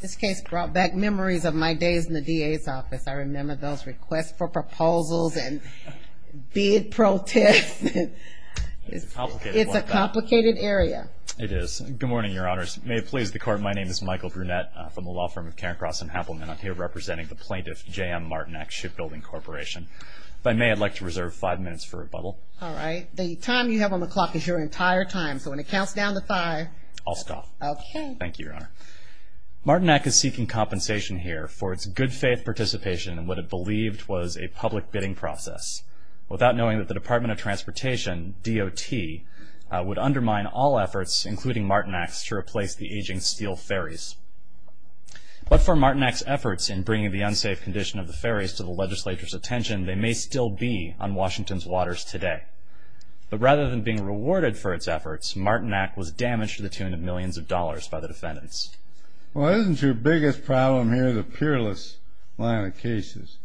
This case brought back memories of my days in the DA's office. I remember those requests for proposals and bid protests. It's a complicated area. It is. Good morning, Your Honors. May it please the Court, my name is Michael Brunette from the law firm of Karen Cross and Happelman. I'm here representing the plaintiff, J.M. Martinac Shipbuilding Corporation. If I may, I'd like to reserve five minutes for rebuttal. All right. The time you have on the clock is your entire time, so when it counts down to five... I'll stop. Okay. Thank you, Your Honor. Martinac is seeking compensation here for its good-faith participation in what it believed was a public bidding process, without knowing that the Department of Transportation, DOT, would undermine all efforts, including Martinac's, to replace the aging steel ferries. But for Martinac's efforts in bringing the unsafe condition of the ferries to the legislature's attention, they may still be on Washington's waters today. But rather than being rewarded for its efforts, Martinac was damaged to the tune of millions of dollars by the defendants. Well, isn't your biggest problem here the peerless line of cases?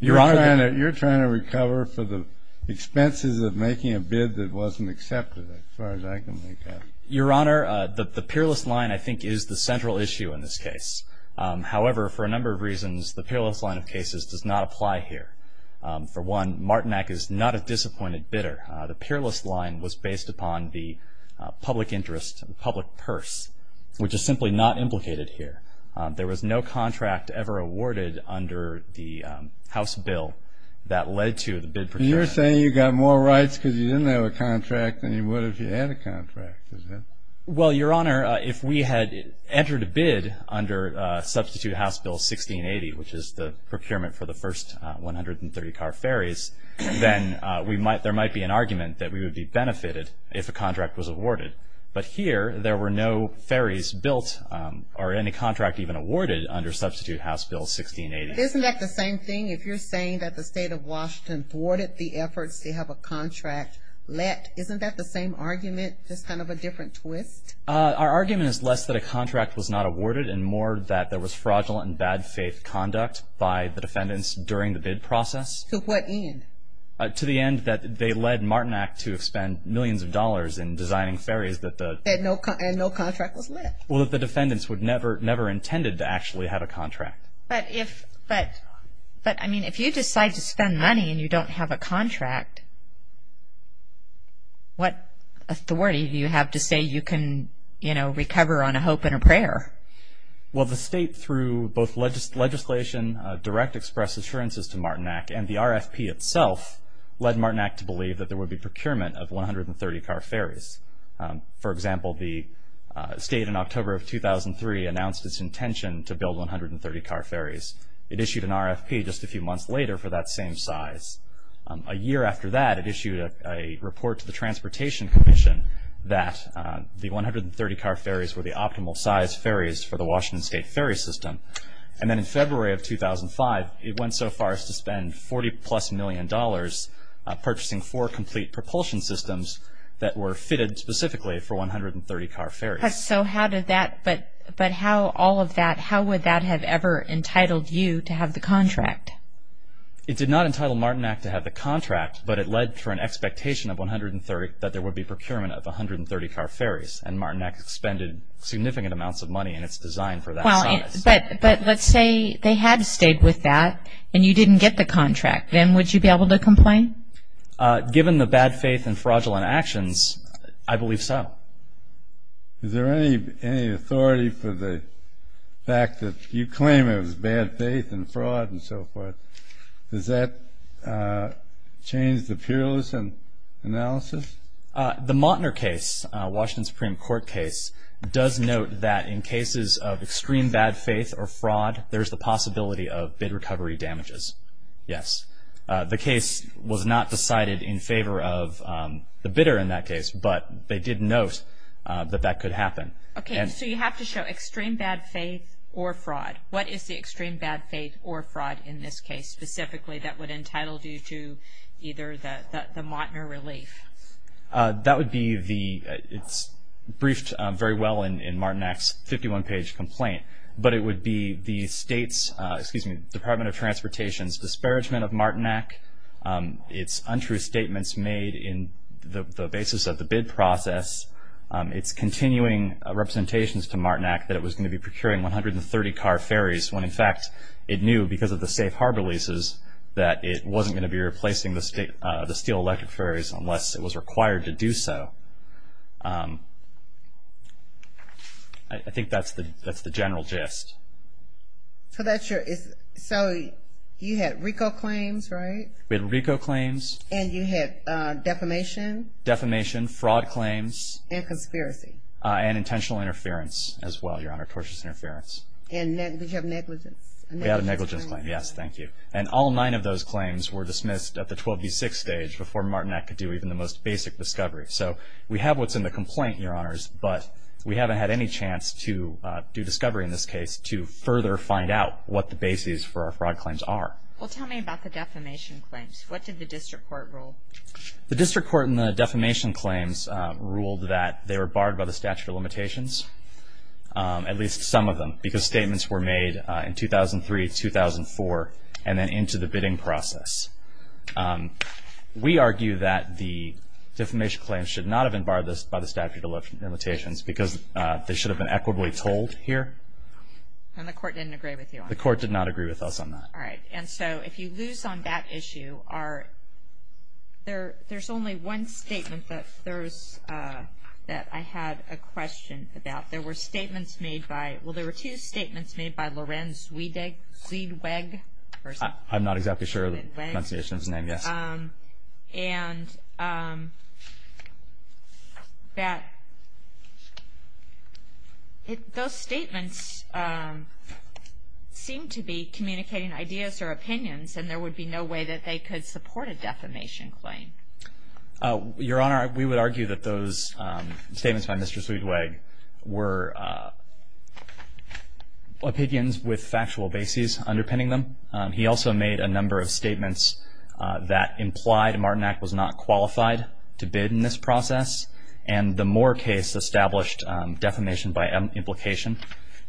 Your Honor... You're trying to recover for the expenses of making a bid that wasn't accepted, as far as I can make out. Your Honor, the peerless line, I think, is the central issue in this case. However, for a number of reasons, the peerless line of cases does not apply here. For one, Martinac is not a disappointed bidder. The peerless line was based upon the public interest, the public purse, which is simply not implicated here. There was no contract ever awarded under the House bill that led to the bid procurement. You're saying you got more rights because you didn't have a contract than you would have if you had a contract, is that... Well, Your Honor, if we had entered a bid under Substitute House Bill 1680, which is the procurement for the first 130-car ferries, then there might be an argument that we would be benefited if a contract was awarded. But here, there were no ferries built or any contract even awarded under Substitute House Bill 1680. Isn't that the same thing? If you're saying that the state of Washington thwarted the efforts to have a contract let, isn't that the same argument, just kind of a different twist? Our argument is less that a contract was not awarded and more that there was fraudulent and bad faith conduct by the defendants during the bid process. To what end? To the end that they led Martinac to spend millions of dollars in designing ferries that the... And no contract was left. Well, that the defendants would never, never intended to actually have a contract. But, I mean, if you decide to spend money and you don't have a contract, what authority do you have to say you can, you know, recover on a hope and a prayer? Well, the state through both legislation, direct express assurances to Martinac, and the RFP itself led Martinac to believe that there would be procurement of 130-car ferries. For example, the state in October of 2003 announced its intention to build 130-car ferries. It issued an RFP just a few months later for that same size. A year after that, it issued a report to the Transportation Commission that the 130-car ferries were the optimal size ferries for the Washington State Ferry System. And then in February of 2005, it went so far as to spend $40-plus million purchasing four complete propulsion systems that were fitted specifically for 130-car ferries. So how did that, but how all of that, how would that have ever entitled you to have the contract? It did not entitle Martinac to have the contract, but it led to an expectation of 130, that there would be procurement of 130-car ferries. And Martinac expended significant amounts of money in its design for that size. Well, but let's say they had stayed with that and you didn't get the contract. Then would you be able to complain? Given the bad faith and fraudulent actions, I believe so. Is there any authority for the fact that you claim it was bad faith and fraud and so forth? Does that change the peerless analysis? The Mottner case, Washington Supreme Court case, there is the possibility of bid recovery damages. Yes. The case was not decided in favor of the bidder in that case, but they did note that that could happen. Okay. So you have to show extreme bad faith or fraud. What is the extreme bad faith or fraud in this case, specifically that would entitle you to either the Mottner relief? That would be the, it's briefed very well in Martinac's 51-page complaint, but it would be the Department of Transportation's disparagement of Martinac, its untrue statements made in the basis of the bid process, its continuing representations to Martinac that it was going to be procuring 130 car ferries when, in fact, it knew because of the safe harbor leases that it wasn't going to be replacing the steel electric ferries unless it was required to do so. I think that's the general gist. So that's your, so you had RICO claims, right? We had RICO claims. And you had defamation? Defamation, fraud claims. And conspiracy. And intentional interference as well, Your Honor, tortious interference. And did you have negligence? We had a negligence claim, yes, thank you. And all nine of those claims were dismissed at the 12B6 stage before Martinac could do even the most basic discovery. So we have what's in the complaint, Your Honors, but we haven't had any chance to do discovery in this case to further find out what the bases for our fraud claims are. Well, tell me about the defamation claims. What did the district court rule? The district court in the defamation claims ruled that they were barred by the statute of limitations, at least some of them, because statements were made in 2003, 2004, and then into the bidding process. We argue that the defamation claims should not have been barred by the statute of limitations because they should have been equitably told here. And the court didn't agree with you on that? The court did not agree with us on that. All right. And so if you lose on that issue, there's only one statement that I had a question about. There were statements made by, well, there were two statements made by Lorenz Ziedweg. I'm not exactly sure of the pronunciation of his name, yes. And that those statements seem to be communicating ideas or opinions, and there would be no way that they could support a defamation claim. Your Honor, we would argue that those statements by Mr. Ziedweg were opinions with factual bases underpinning them. He also made a number of statements that implied a Martin Act was not qualified to bid in this process, and the Moore case established defamation by implication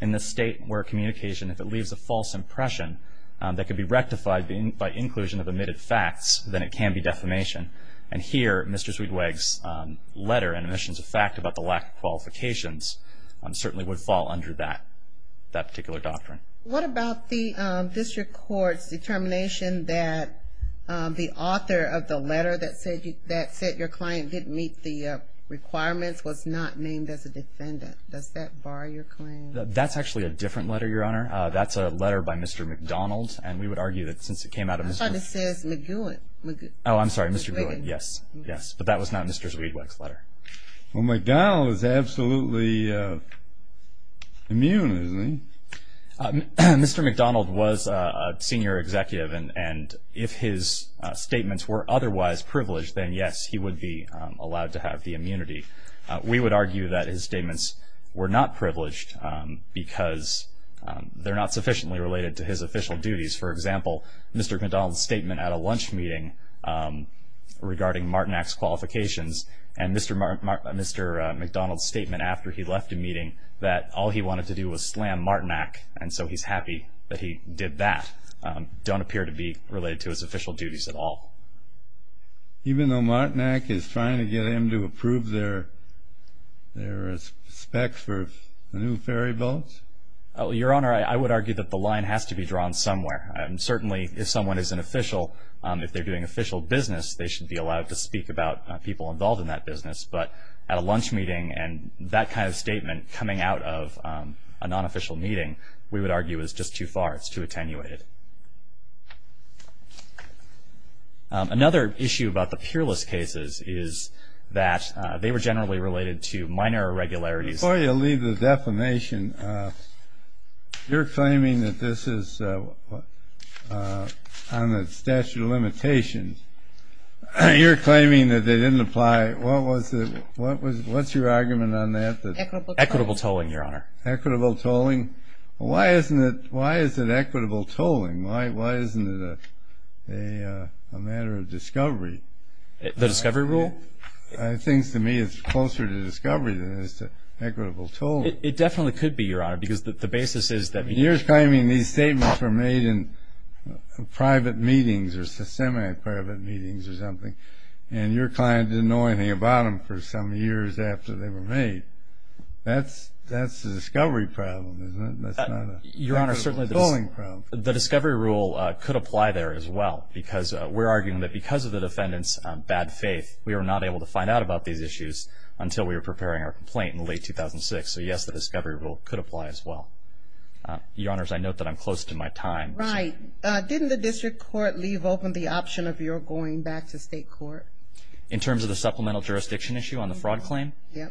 in this state where communication, if it leaves a false impression, that could be rectified by inclusion of omitted facts, then it can be defamation. And here, Mr. Ziedweg's letter and omissions of fact about the lack of qualifications certainly would fall under that particular doctrine. What about the district court's determination that the author of the letter that said your client didn't meet the requirements was not named as a defendant? Does that bar your claim? That's actually a different letter, Your Honor. That's a letter by Mr. McDonald. And we would argue that since it came out of Mr. — Yes, but that was not Mr. Ziedweg's letter. Well, McDonald is absolutely immune, isn't he? Mr. McDonald was a senior executive, and if his statements were otherwise privileged, then yes, he would be allowed to have the immunity. We would argue that his statements were not privileged because they're not sufficiently related to his official duties. For example, Mr. McDonald's statement at a lunch meeting regarding Martinac's qualifications and Mr. McDonald's statement after he left a meeting that all he wanted to do was slam Martinac, and so he's happy that he did that, don't appear to be related to his official duties at all. Even though Martinac is trying to get him to approve their specs for the new ferry boats? Your Honor, I would argue that the line has to be drawn somewhere. Certainly, if someone is an official, if they're doing official business, they should be allowed to speak about people involved in that business. But at a lunch meeting and that kind of statement coming out of a non-official meeting, we would argue is just too far, it's too attenuated. Another issue about the peerless cases is that they were generally related to minor irregularities. Before you leave the defamation, you're claiming that this is on the statute of limitations. You're claiming that they didn't apply. What's your argument on that? Equitable tolling, Your Honor. Equitable tolling. Why is it equitable tolling? Why isn't it a matter of discovery? The discovery rule? I think, to me, it's closer to discovery than it is to equitable tolling. It definitely could be, Your Honor, because the basis is that you're claiming these statements were made in private meetings or semi-private meetings or something, and your client didn't know anything about them for some years after they were made. That's a discovery problem, isn't it? That's not an equitable tolling problem. Your Honor, the discovery rule could apply there as well because we're arguing that because of the defendant's bad faith, we were not able to find out about these issues until we were preparing our complaint in late 2006. So, yes, the discovery rule could apply as well. Your Honors, I note that I'm close to my time. Right. Didn't the district court leave open the option of your going back to state court? In terms of the supplemental jurisdiction issue on the fraud claim? Yes.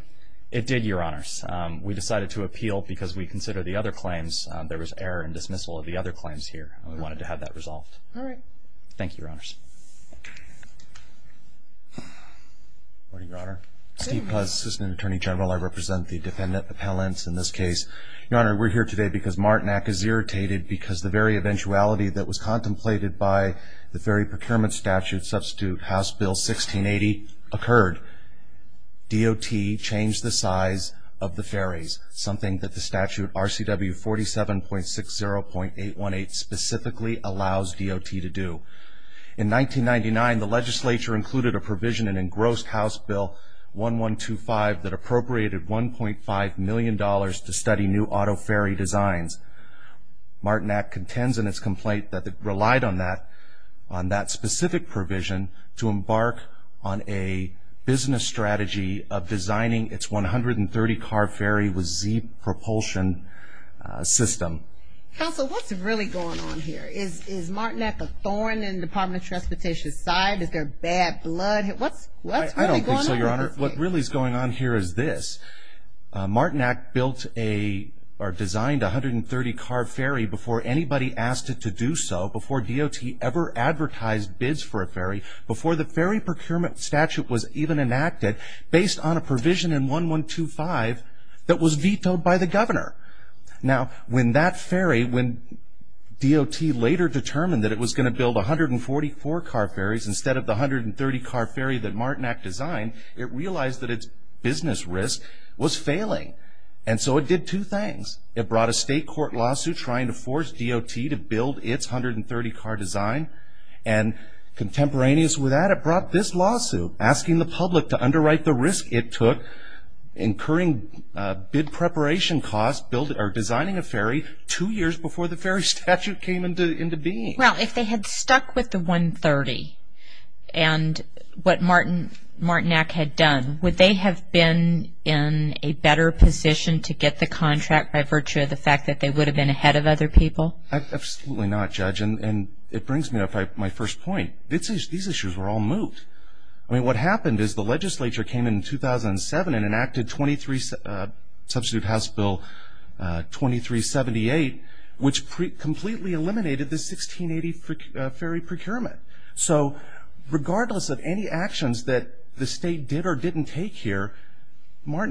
It did, Your Honors. We decided to appeal because we considered the other claims. There was error and dismissal of the other claims here, and we wanted to have that resolved. All right. Thank you, Your Honors. Good morning, Your Honor. Steve Puz, Assistant Attorney General. I represent the defendant appellants in this case. Your Honor, we're here today because Martinack is irritated because the very eventuality that was contemplated by the Ferry Procurement Statute substitute House Bill 1680 occurred. DOT changed the size of the ferries, something that the statute RCW 47.60.818 specifically allows DOT to do. In 1999, the legislature included a provision in engrossed House Bill 1125 that appropriated $1.5 million to study new auto ferry designs. Martinack contends in its complaint that it relied on that specific provision to embark on a business strategy of designing its 130-car ferry with Z propulsion system. Counsel, what's really going on here? Is Martinack a thorn in the Department of Transportation's side? Is there bad blood? What's really going on? I don't think so, Your Honor. What really is going on here is this. Martinack built or designed a 130-car ferry before anybody asked it to do so, before DOT ever advertised bids for a ferry, before the Ferry Procurement Statute was even enacted, based on a provision in 1125 that was vetoed by the governor. Now, when that ferry, when DOT later determined that it was going to build 144-car ferries instead of the 130-car ferry that Martinack designed, it realized that its business risk was failing. And so it did two things. It brought a state court lawsuit trying to force DOT to build its 130-car design, and contemporaneous with that, it brought this lawsuit, asking the public to underwrite the risk it took incurring bid preparation costs or designing a ferry two years before the ferry statute came into being. Well, if they had stuck with the 130 and what Martinack had done, would they have been in a better position to get the contract by virtue of the fact that they would have been ahead of other people? Well, absolutely not, Judge. And it brings me up to my first point. These issues were all moved. I mean, what happened is the legislature came in 2007 and enacted Substitute House Bill 2378, which completely eliminated the 1680 ferry procurement. So regardless of any actions that the state did or didn't take here, neither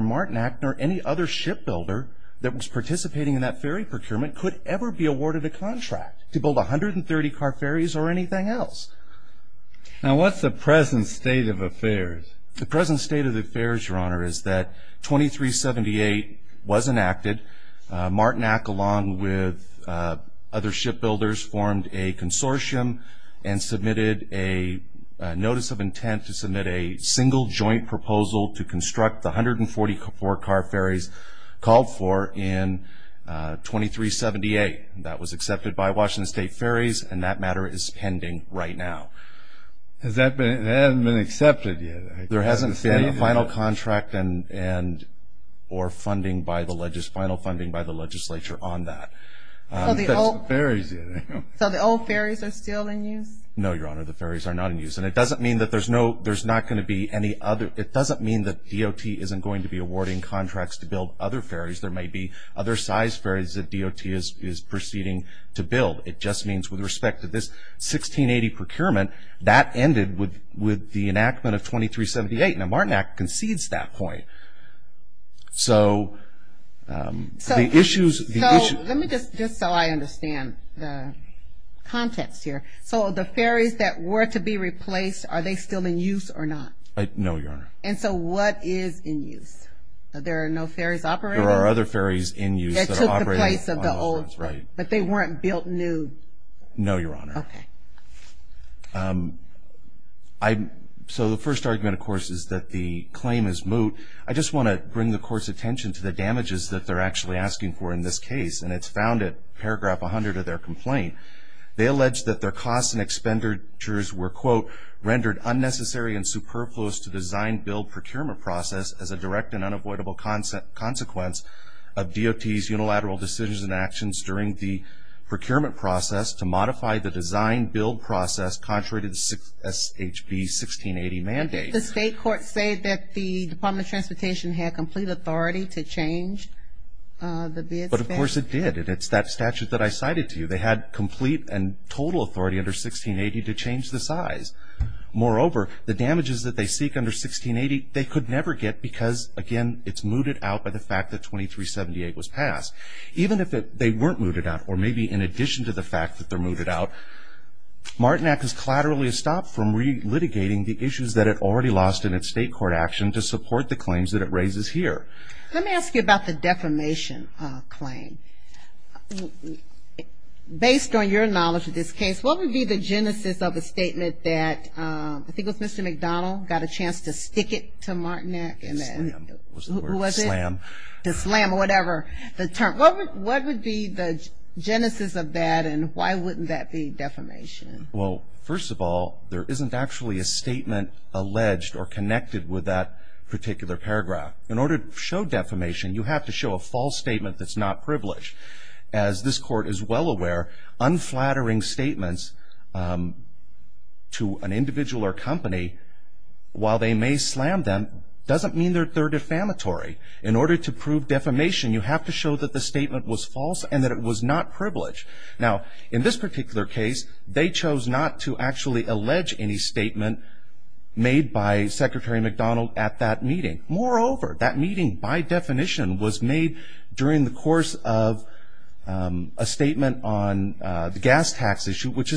Martinack nor any other shipbuilder that was participating in that ferry procurement could ever be awarded a contract to build 130-car ferries or anything else. Now, what's the present state of affairs? The present state of affairs, Your Honor, is that 2378 was enacted. Martinack, along with other shipbuilders, formed a consortium and submitted a notice of intent to submit a single joint proposal to construct the 144-car ferries called for in 2378. That was accepted by Washington State Ferries, and that matter is pending right now. Has that been accepted yet? There hasn't been a final contract or funding by the legislature on that. So the old ferries are still in use? No, Your Honor, the ferries are not in use. And it doesn't mean that there's not going to be any other. It doesn't mean that DOT isn't going to be awarding contracts to build other ferries. There may be other size ferries that DOT is proceeding to build. It just means with respect to this 1680 procurement, that ended with the enactment of 2378. Now, Martinack concedes that point. So the issues of the issue. So let me just, just so I understand the contents here. So the ferries that were to be replaced, are they still in use or not? No, Your Honor. And so what is in use? There are no ferries operating? There are other ferries in use that are operating on those ferries. But they weren't built new? No, Your Honor. Okay. So the first argument, of course, is that the claim is moot. I just want to bring the court's attention to the damages that they're actually asking for in this case, and it's found at paragraph 100 of their complaint. They allege that their costs and expenditures were, quote, rendered unnecessary and superfluous to design-build procurement process as a direct and unavoidable consequence of DOT's unilateral decisions and actions during the procurement process to modify the design-build process contrary to the SHB 1680 mandate. Did the state court say that the Department of Transportation had complete authority to change the bid statute? But, of course, it did. And it's that statute that I cited to you. They had complete and total authority under 1680 to change the size. Moreover, the damages that they seek under 1680 they could never get because, again, it's mooted out by the fact that 2378 was passed. Even if they weren't mooted out, or maybe in addition to the fact that they're mooted out, Martinak has collaterally stopped from re-litigating the issues that it already lost in its state court action to support the claims that it raises here. Let me ask you about the defamation claim. Based on your knowledge of this case, what would be the genesis of a statement that, I think it was Mr. McDonnell, got a chance to stick it to Martinak? Slam. Who was it? Slam. To slam or whatever the term. What would be the genesis of that, and why wouldn't that be defamation? Well, first of all, there isn't actually a statement alleged or connected with that particular paragraph. In order to show defamation, you have to show a false statement that's not privileged. As this court is well aware, unflattering statements to an individual or company, while they may slam them, doesn't mean that they're defamatory. In order to prove defamation, you have to show that the statement was false and that it was not privileged. Now, in this particular case, they chose not to actually allege any statement made by Secretary McDonnell at that meeting. Moreover, that meeting, by definition, was made during the course of a statement on the gas tax issue, which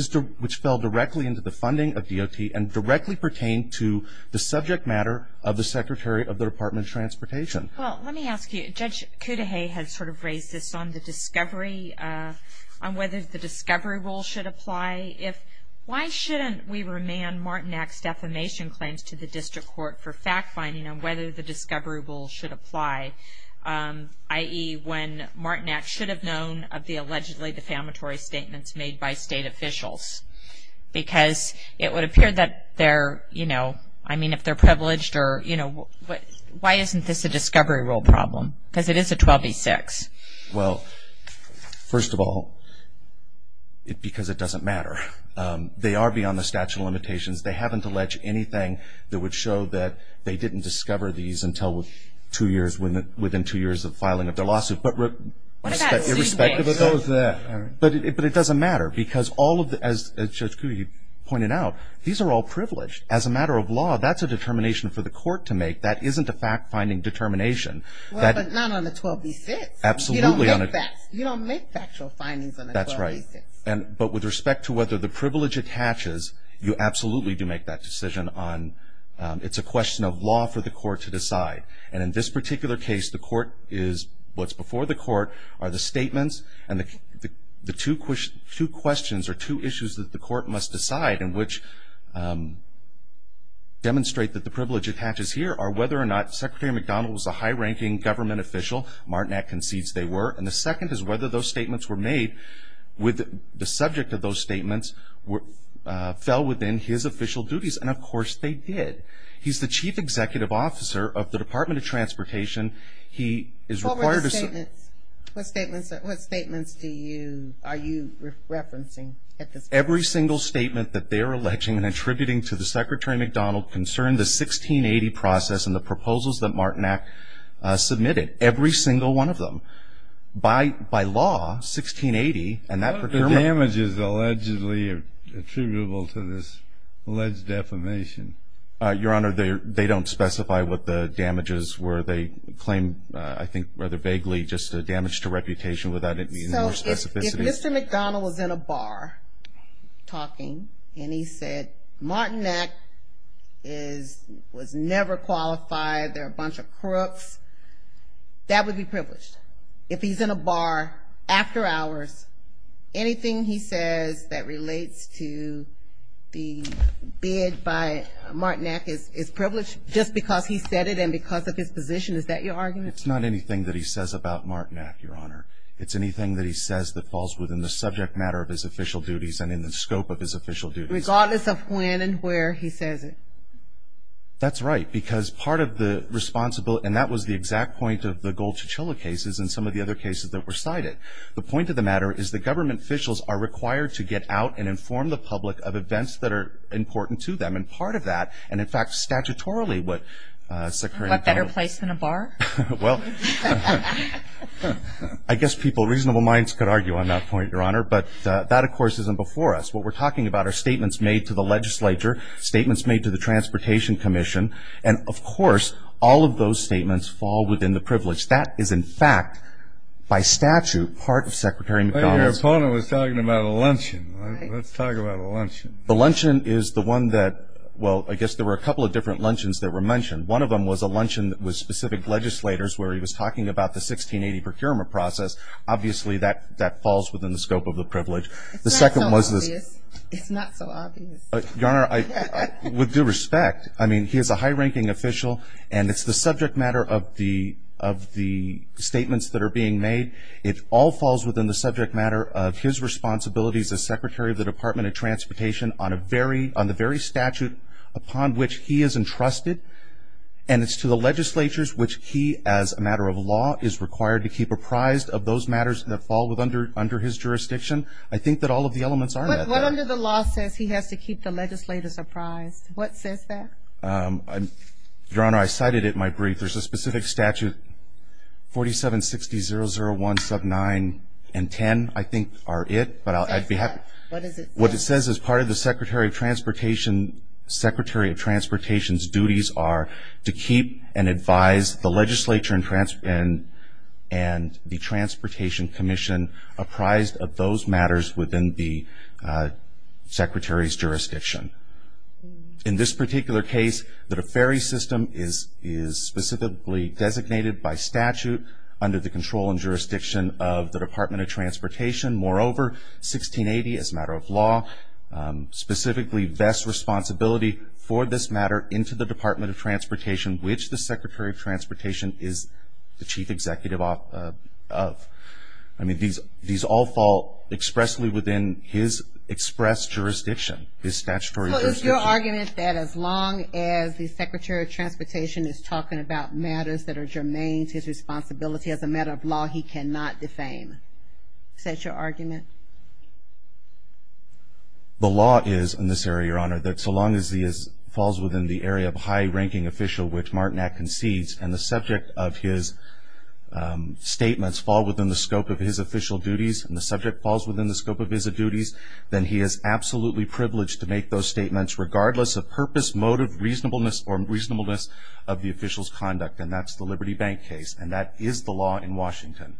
fell directly into the funding of DOT and directly pertained to the subject matter of the Secretary of the Department of Transportation. Well, let me ask you. Judge Cudahy has sort of raised this on the discovery, on whether the discovery rule should apply. Why shouldn't we remand Martinac's defamation claims to the district court for fact-finding on whether the discovery rule should apply, i.e., when Martinac should have known of the allegedly defamatory statements made by state officials? Because it would appear that they're, you know, I mean, if they're privileged or, you know, why isn't this a discovery rule problem? Because it is a 12b-6. Well, first of all, because it doesn't matter. They are beyond the statute of limitations. They haven't alleged anything that would show that they didn't discover these until within two years of filing of their lawsuit. But irrespective of that, but it doesn't matter because all of the, as Judge Cudahy pointed out, these are all privileged. As a matter of law, that's a determination for the court to make. That isn't a fact-finding determination. Well, but not on the 12b-6. Absolutely. You don't make factual findings on the 12b-6. That's right. But with respect to whether the privilege attaches, you absolutely do make that decision on, it's a question of law for the court to decide. And in this particular case, the court is, what's before the court are the statements and the two questions or two issues that the court must decide and which demonstrate that the privilege attaches here are whether or not Secretary McDonald was a high-ranking government official. Martinet concedes they were. And the second is whether those statements were made with the subject of those statements fell within his official duties. And, of course, they did. He's the chief executive officer of the Department of Transportation. He is required to say What were the statements? What statements do you, are you referencing at this point? Every single statement that they're alleging and attributing to the Secretary McDonald concerned the 1680 process and the proposals that Martinet submitted, every single one of them. By law, 1680 and that procurement. What are the damages allegedly attributable to this alleged defamation? Your Honor, they don't specify what the damages were. They claim, I think rather vaguely, just a damage to reputation without any more specificity. If Mr. McDonald was in a bar talking and he said Martinet was never qualified, they're a bunch of crooks, that would be privileged. If he's in a bar after hours, anything he says that relates to the bid by Martinet is privileged just because he said it and because of his position. Is that your argument? It's not anything that he says about Martinet, Your Honor. It's anything that he says that falls within the subject matter of his official duties and in the scope of his official duties. Regardless of when and where he says it. That's right, because part of the responsible, and that was the exact point of the gold chichilla cases and some of the other cases that were cited. The point of the matter is that government officials are required to get out and inform the public of events that are important to them. And part of that, and in fact, statutorily, what Secretary McDonald What better place than a bar? Well, I guess reasonable minds could argue on that point, Your Honor, but that, of course, isn't before us. What we're talking about are statements made to the legislature, statements made to the Transportation Commission, and of course, all of those statements fall within the privilege. That is, in fact, by statute, part of Secretary McDonald's Your opponent was talking about a luncheon. Let's talk about a luncheon. The luncheon is the one that, well, I guess there were a couple of different luncheons that were mentioned. One of them was a luncheon with specific legislators where he was talking about the 1680 procurement process. Obviously, that falls within the scope of the privilege. It's not so obvious. Your Honor, with due respect, I mean, he is a high-ranking official, and it's the subject matter of the statements that are being made. It all falls within the subject matter of his responsibilities as Secretary of the Department of Transportation on the very statute upon which he is entrusted, and it's to the legislatures which he, as a matter of law, is required to keep apprised of those matters that fall under his jurisdiction. I think that all of the elements are met there. What under the law says he has to keep the legislators apprised? What says that? Your Honor, I cited it in my brief. There's a specific statute, 4760-001 sub 9 and 10, I think, are it. What it says is part of the Secretary of Transportation's duties are to keep and advise the legislature and the Transportation Commission apprised of those matters within the Secretary's jurisdiction. In this particular case, the ferry system is specifically designated by statute under the control and jurisdiction of the Department of Transportation. Moreover, 1680, as a matter of law, specifically vests responsibility for this matter into the Department of Transportation, which the Secretary of Transportation is the chief executive of. I mean, these all fall expressly within his express jurisdiction, his statutory jurisdiction. So is your argument that as long as the Secretary of Transportation is talking about matters that are germane to his responsibility as a matter of law, he cannot defame? Is that your argument? The law is, in this area, Your Honor, that so long as he falls within the area of high-ranking official, which Martinet concedes, and the subject of his statements fall within the scope of his official duties, and the subject falls within the scope of his duties, then he is absolutely privileged to make those statements regardless of purpose, motive, reasonableness, or reasonableness of the official's conduct, and that's the Liberty Bank case, and that is the law in Washington.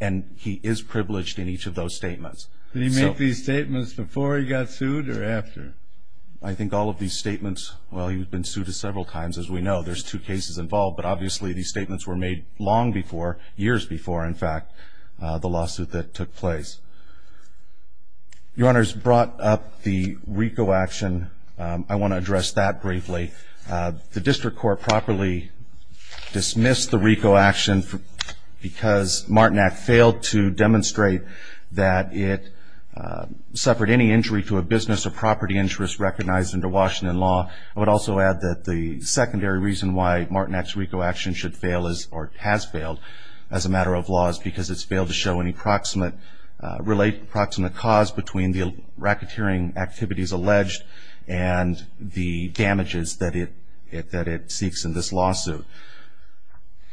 And he is privileged in each of those statements. Did he make these statements before he got sued or after? I think all of these statements, well, he's been sued several times, as we know. There's two cases involved, but obviously these statements were made long before, years before, in fact, the lawsuit that took place. Your Honor's brought up the RICO action. I want to address that briefly. The district court properly dismissed the RICO action because Martinet failed to demonstrate that it suffered any injury to a business or property interest recognized under Washington law. I would also add that the secondary reason why Martinet's RICO action should fail or has failed as a matter of law is because it's failed to show any proximate cause between the racketeering activities alleged and the damages that it seeks in this lawsuit.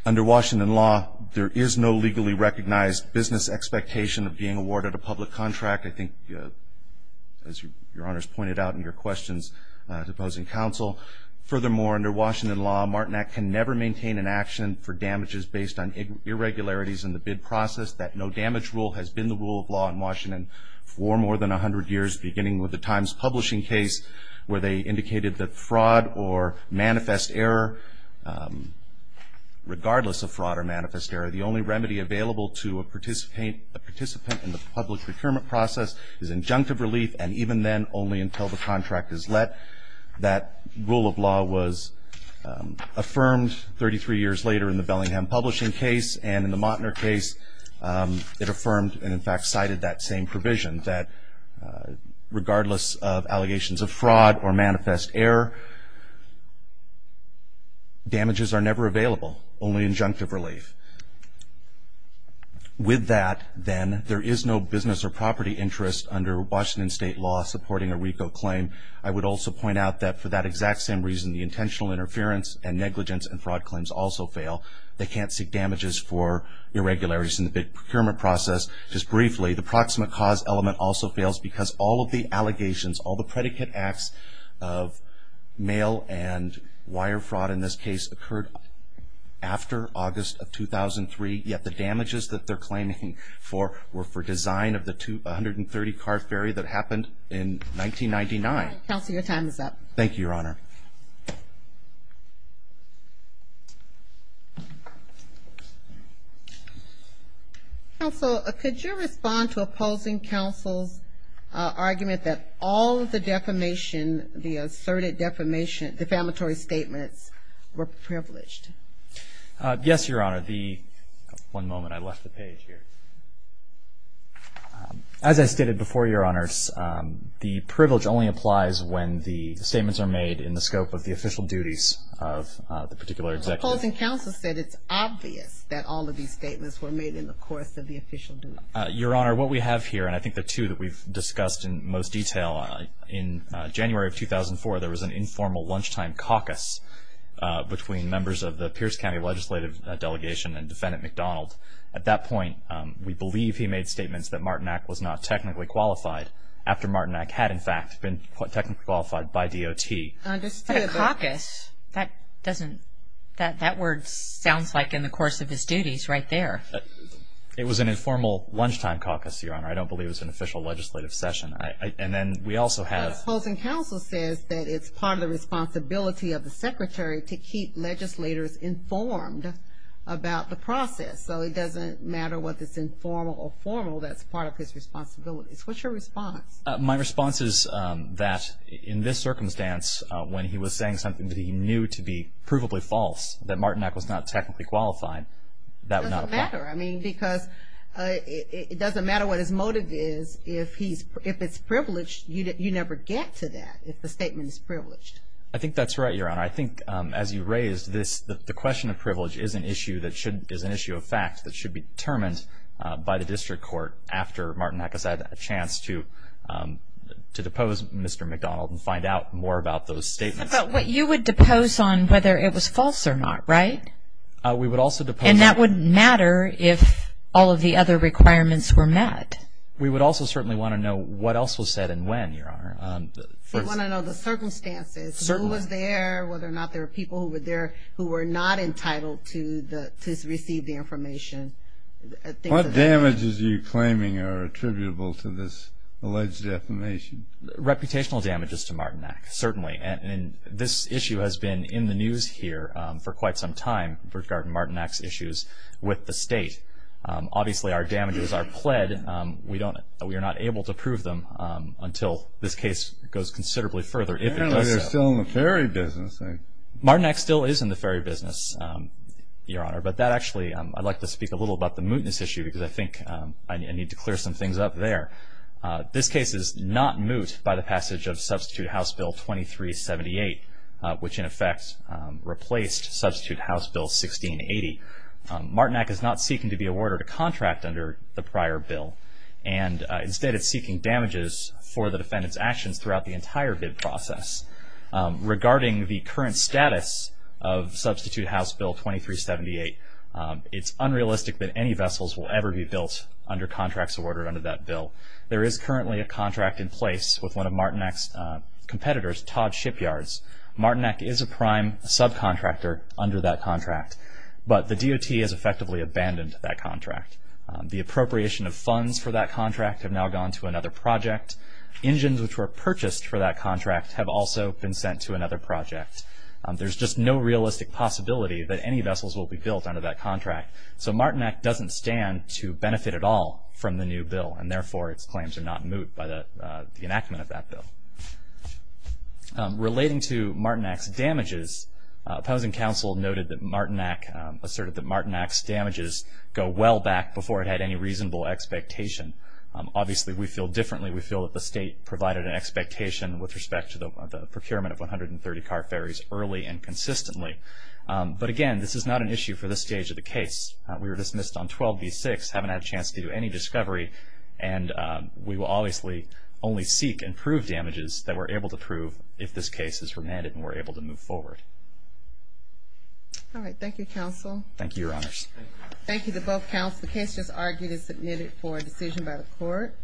Under Washington law, there is no legally recognized business expectation of being awarded a public contract. I think, as Your Honor's pointed out in your questions to opposing counsel. Furthermore, under Washington law, Martinet can never maintain an action for damages based on irregularities in the bid process. That no damage rule has been the rule of law in Washington for more than 100 years, beginning with the Times publishing case where they indicated that fraud or manifest error, regardless of fraud or manifest error, the only remedy available to a participant in the public procurement process is injunctive relief, and even then, only until the contract is let. That rule of law was affirmed 33 years later in the Bellingham publishing case, and in the Martinet case, it affirmed and in fact cited that same provision that regardless of allegations of fraud or manifest error, damages are never available, only injunctive relief. With that, then, there is no business or property interest under Washington state law supporting a RICO claim. I would also point out that for that exact same reason, the intentional interference and negligence and fraud claims also fail. They can't seek damages for irregularities in the bid procurement process. Just briefly, the proximate cause element also fails because all of the allegations, all the predicate acts of mail and wire fraud in this case occurred after August of 2003, yet the damages that they're claiming for were for design of the 130-car ferry that happened in 1999. Counsel, your time is up. Thank you, Your Honor. Counsel, could you respond to opposing counsel's argument that all of the defamation, the asserted defamation, defamatory statements were privileged? Yes, Your Honor. The one moment, I left the page here. As I stated before, Your Honor, the privilege only applies when the statements are made in the scope of the official duties of the particular executive. Opposing counsel said it's obvious that all of these statements were made in the course of the official duties. Your Honor, what we have here, and I think the two that we've discussed in most detail, in January of 2004, there was an informal lunchtime caucus between members of the Pierce County Legislative Delegation and Defendant McDonald. At that point, we believe he made statements that Martinac was not technically qualified after Martinac had, in fact, been technically qualified by DOT. Understood. A caucus? That doesn't, that word sounds like in the course of his duties right there. It was an informal lunchtime caucus, Your Honor. I don't believe it was an official legislative session. And then we also have Opposing counsel says that it's part of the responsibility of the Secretary to keep legislators informed about the process. So it doesn't matter whether it's informal or formal, that's part of his responsibilities. What's your response? My response is that in this circumstance, when he was saying something that he knew to be provably false, that Martinac was not technically qualified, that was not a fact. It doesn't matter. I mean, because it doesn't matter what his motive is. If he's, if it's privileged, you never get to that if the statement is privileged. I think that's right, Your Honor. I think as you raised this, the question of privilege is an issue that should, should be determined by the district court after Martinac has had a chance to, to depose Mr. McDonald and find out more about those statements. But you would depose on whether it was false or not, right? We would also depose on And that wouldn't matter if all of the other requirements were met. We would also certainly want to know what else was said and when, Your Honor. We want to know the circumstances. Certainly. Whether someone was there, whether or not there were people who were there, who were not entitled to the, to receive the information. What damages are you claiming are attributable to this alleged defamation? Reputational damages to Martinac, certainly. And this issue has been in the news here for quite some time regarding Martinac's issues with the state. Obviously, our damages are pled. We don't, we are not able to prove them until this case goes considerably further. They're still in the ferry business. Martinac still is in the ferry business, Your Honor. But that actually, I'd like to speak a little about the mootness issue because I think I need to clear some things up there. This case is not moot by the passage of Substitute House Bill 2378, which in effect replaced Substitute House Bill 1680. Martinac is not seeking to be awarded a contract under the prior bill. And instead, it's seeking damages for the defendant's actions throughout the entire bid process. Regarding the current status of Substitute House Bill 2378, it's unrealistic that any vessels will ever be built under contracts awarded under that bill. There is currently a contract in place with one of Martinac's competitors, Todd Shipyards. Martinac is a prime subcontractor under that contract. But the DOT has effectively abandoned that contract. The appropriation of funds for that contract have now gone to another project. Engines which were purchased for that contract have also been sent to another project. There's just no realistic possibility that any vessels will be built under that contract. So Martinac doesn't stand to benefit at all from the new bill, and therefore its claims are not moot by the enactment of that bill. Relating to Martinac's damages, opposing counsel noted that Martinac, Martinac's damages go well back before it had any reasonable expectation. Obviously, we feel differently. We feel that the state provided an expectation with respect to the procurement of 130 car ferries early and consistently. But again, this is not an issue for this stage of the case. We were dismissed on 12B6, haven't had a chance to do any discovery, and we will obviously only seek and prove damages that we're able to prove if this case is remanded and we're able to move forward. All right. Thank you, counsel. Thank you, Your Honors. Thank you to both counsels. The case is argued and submitted for decision by the court.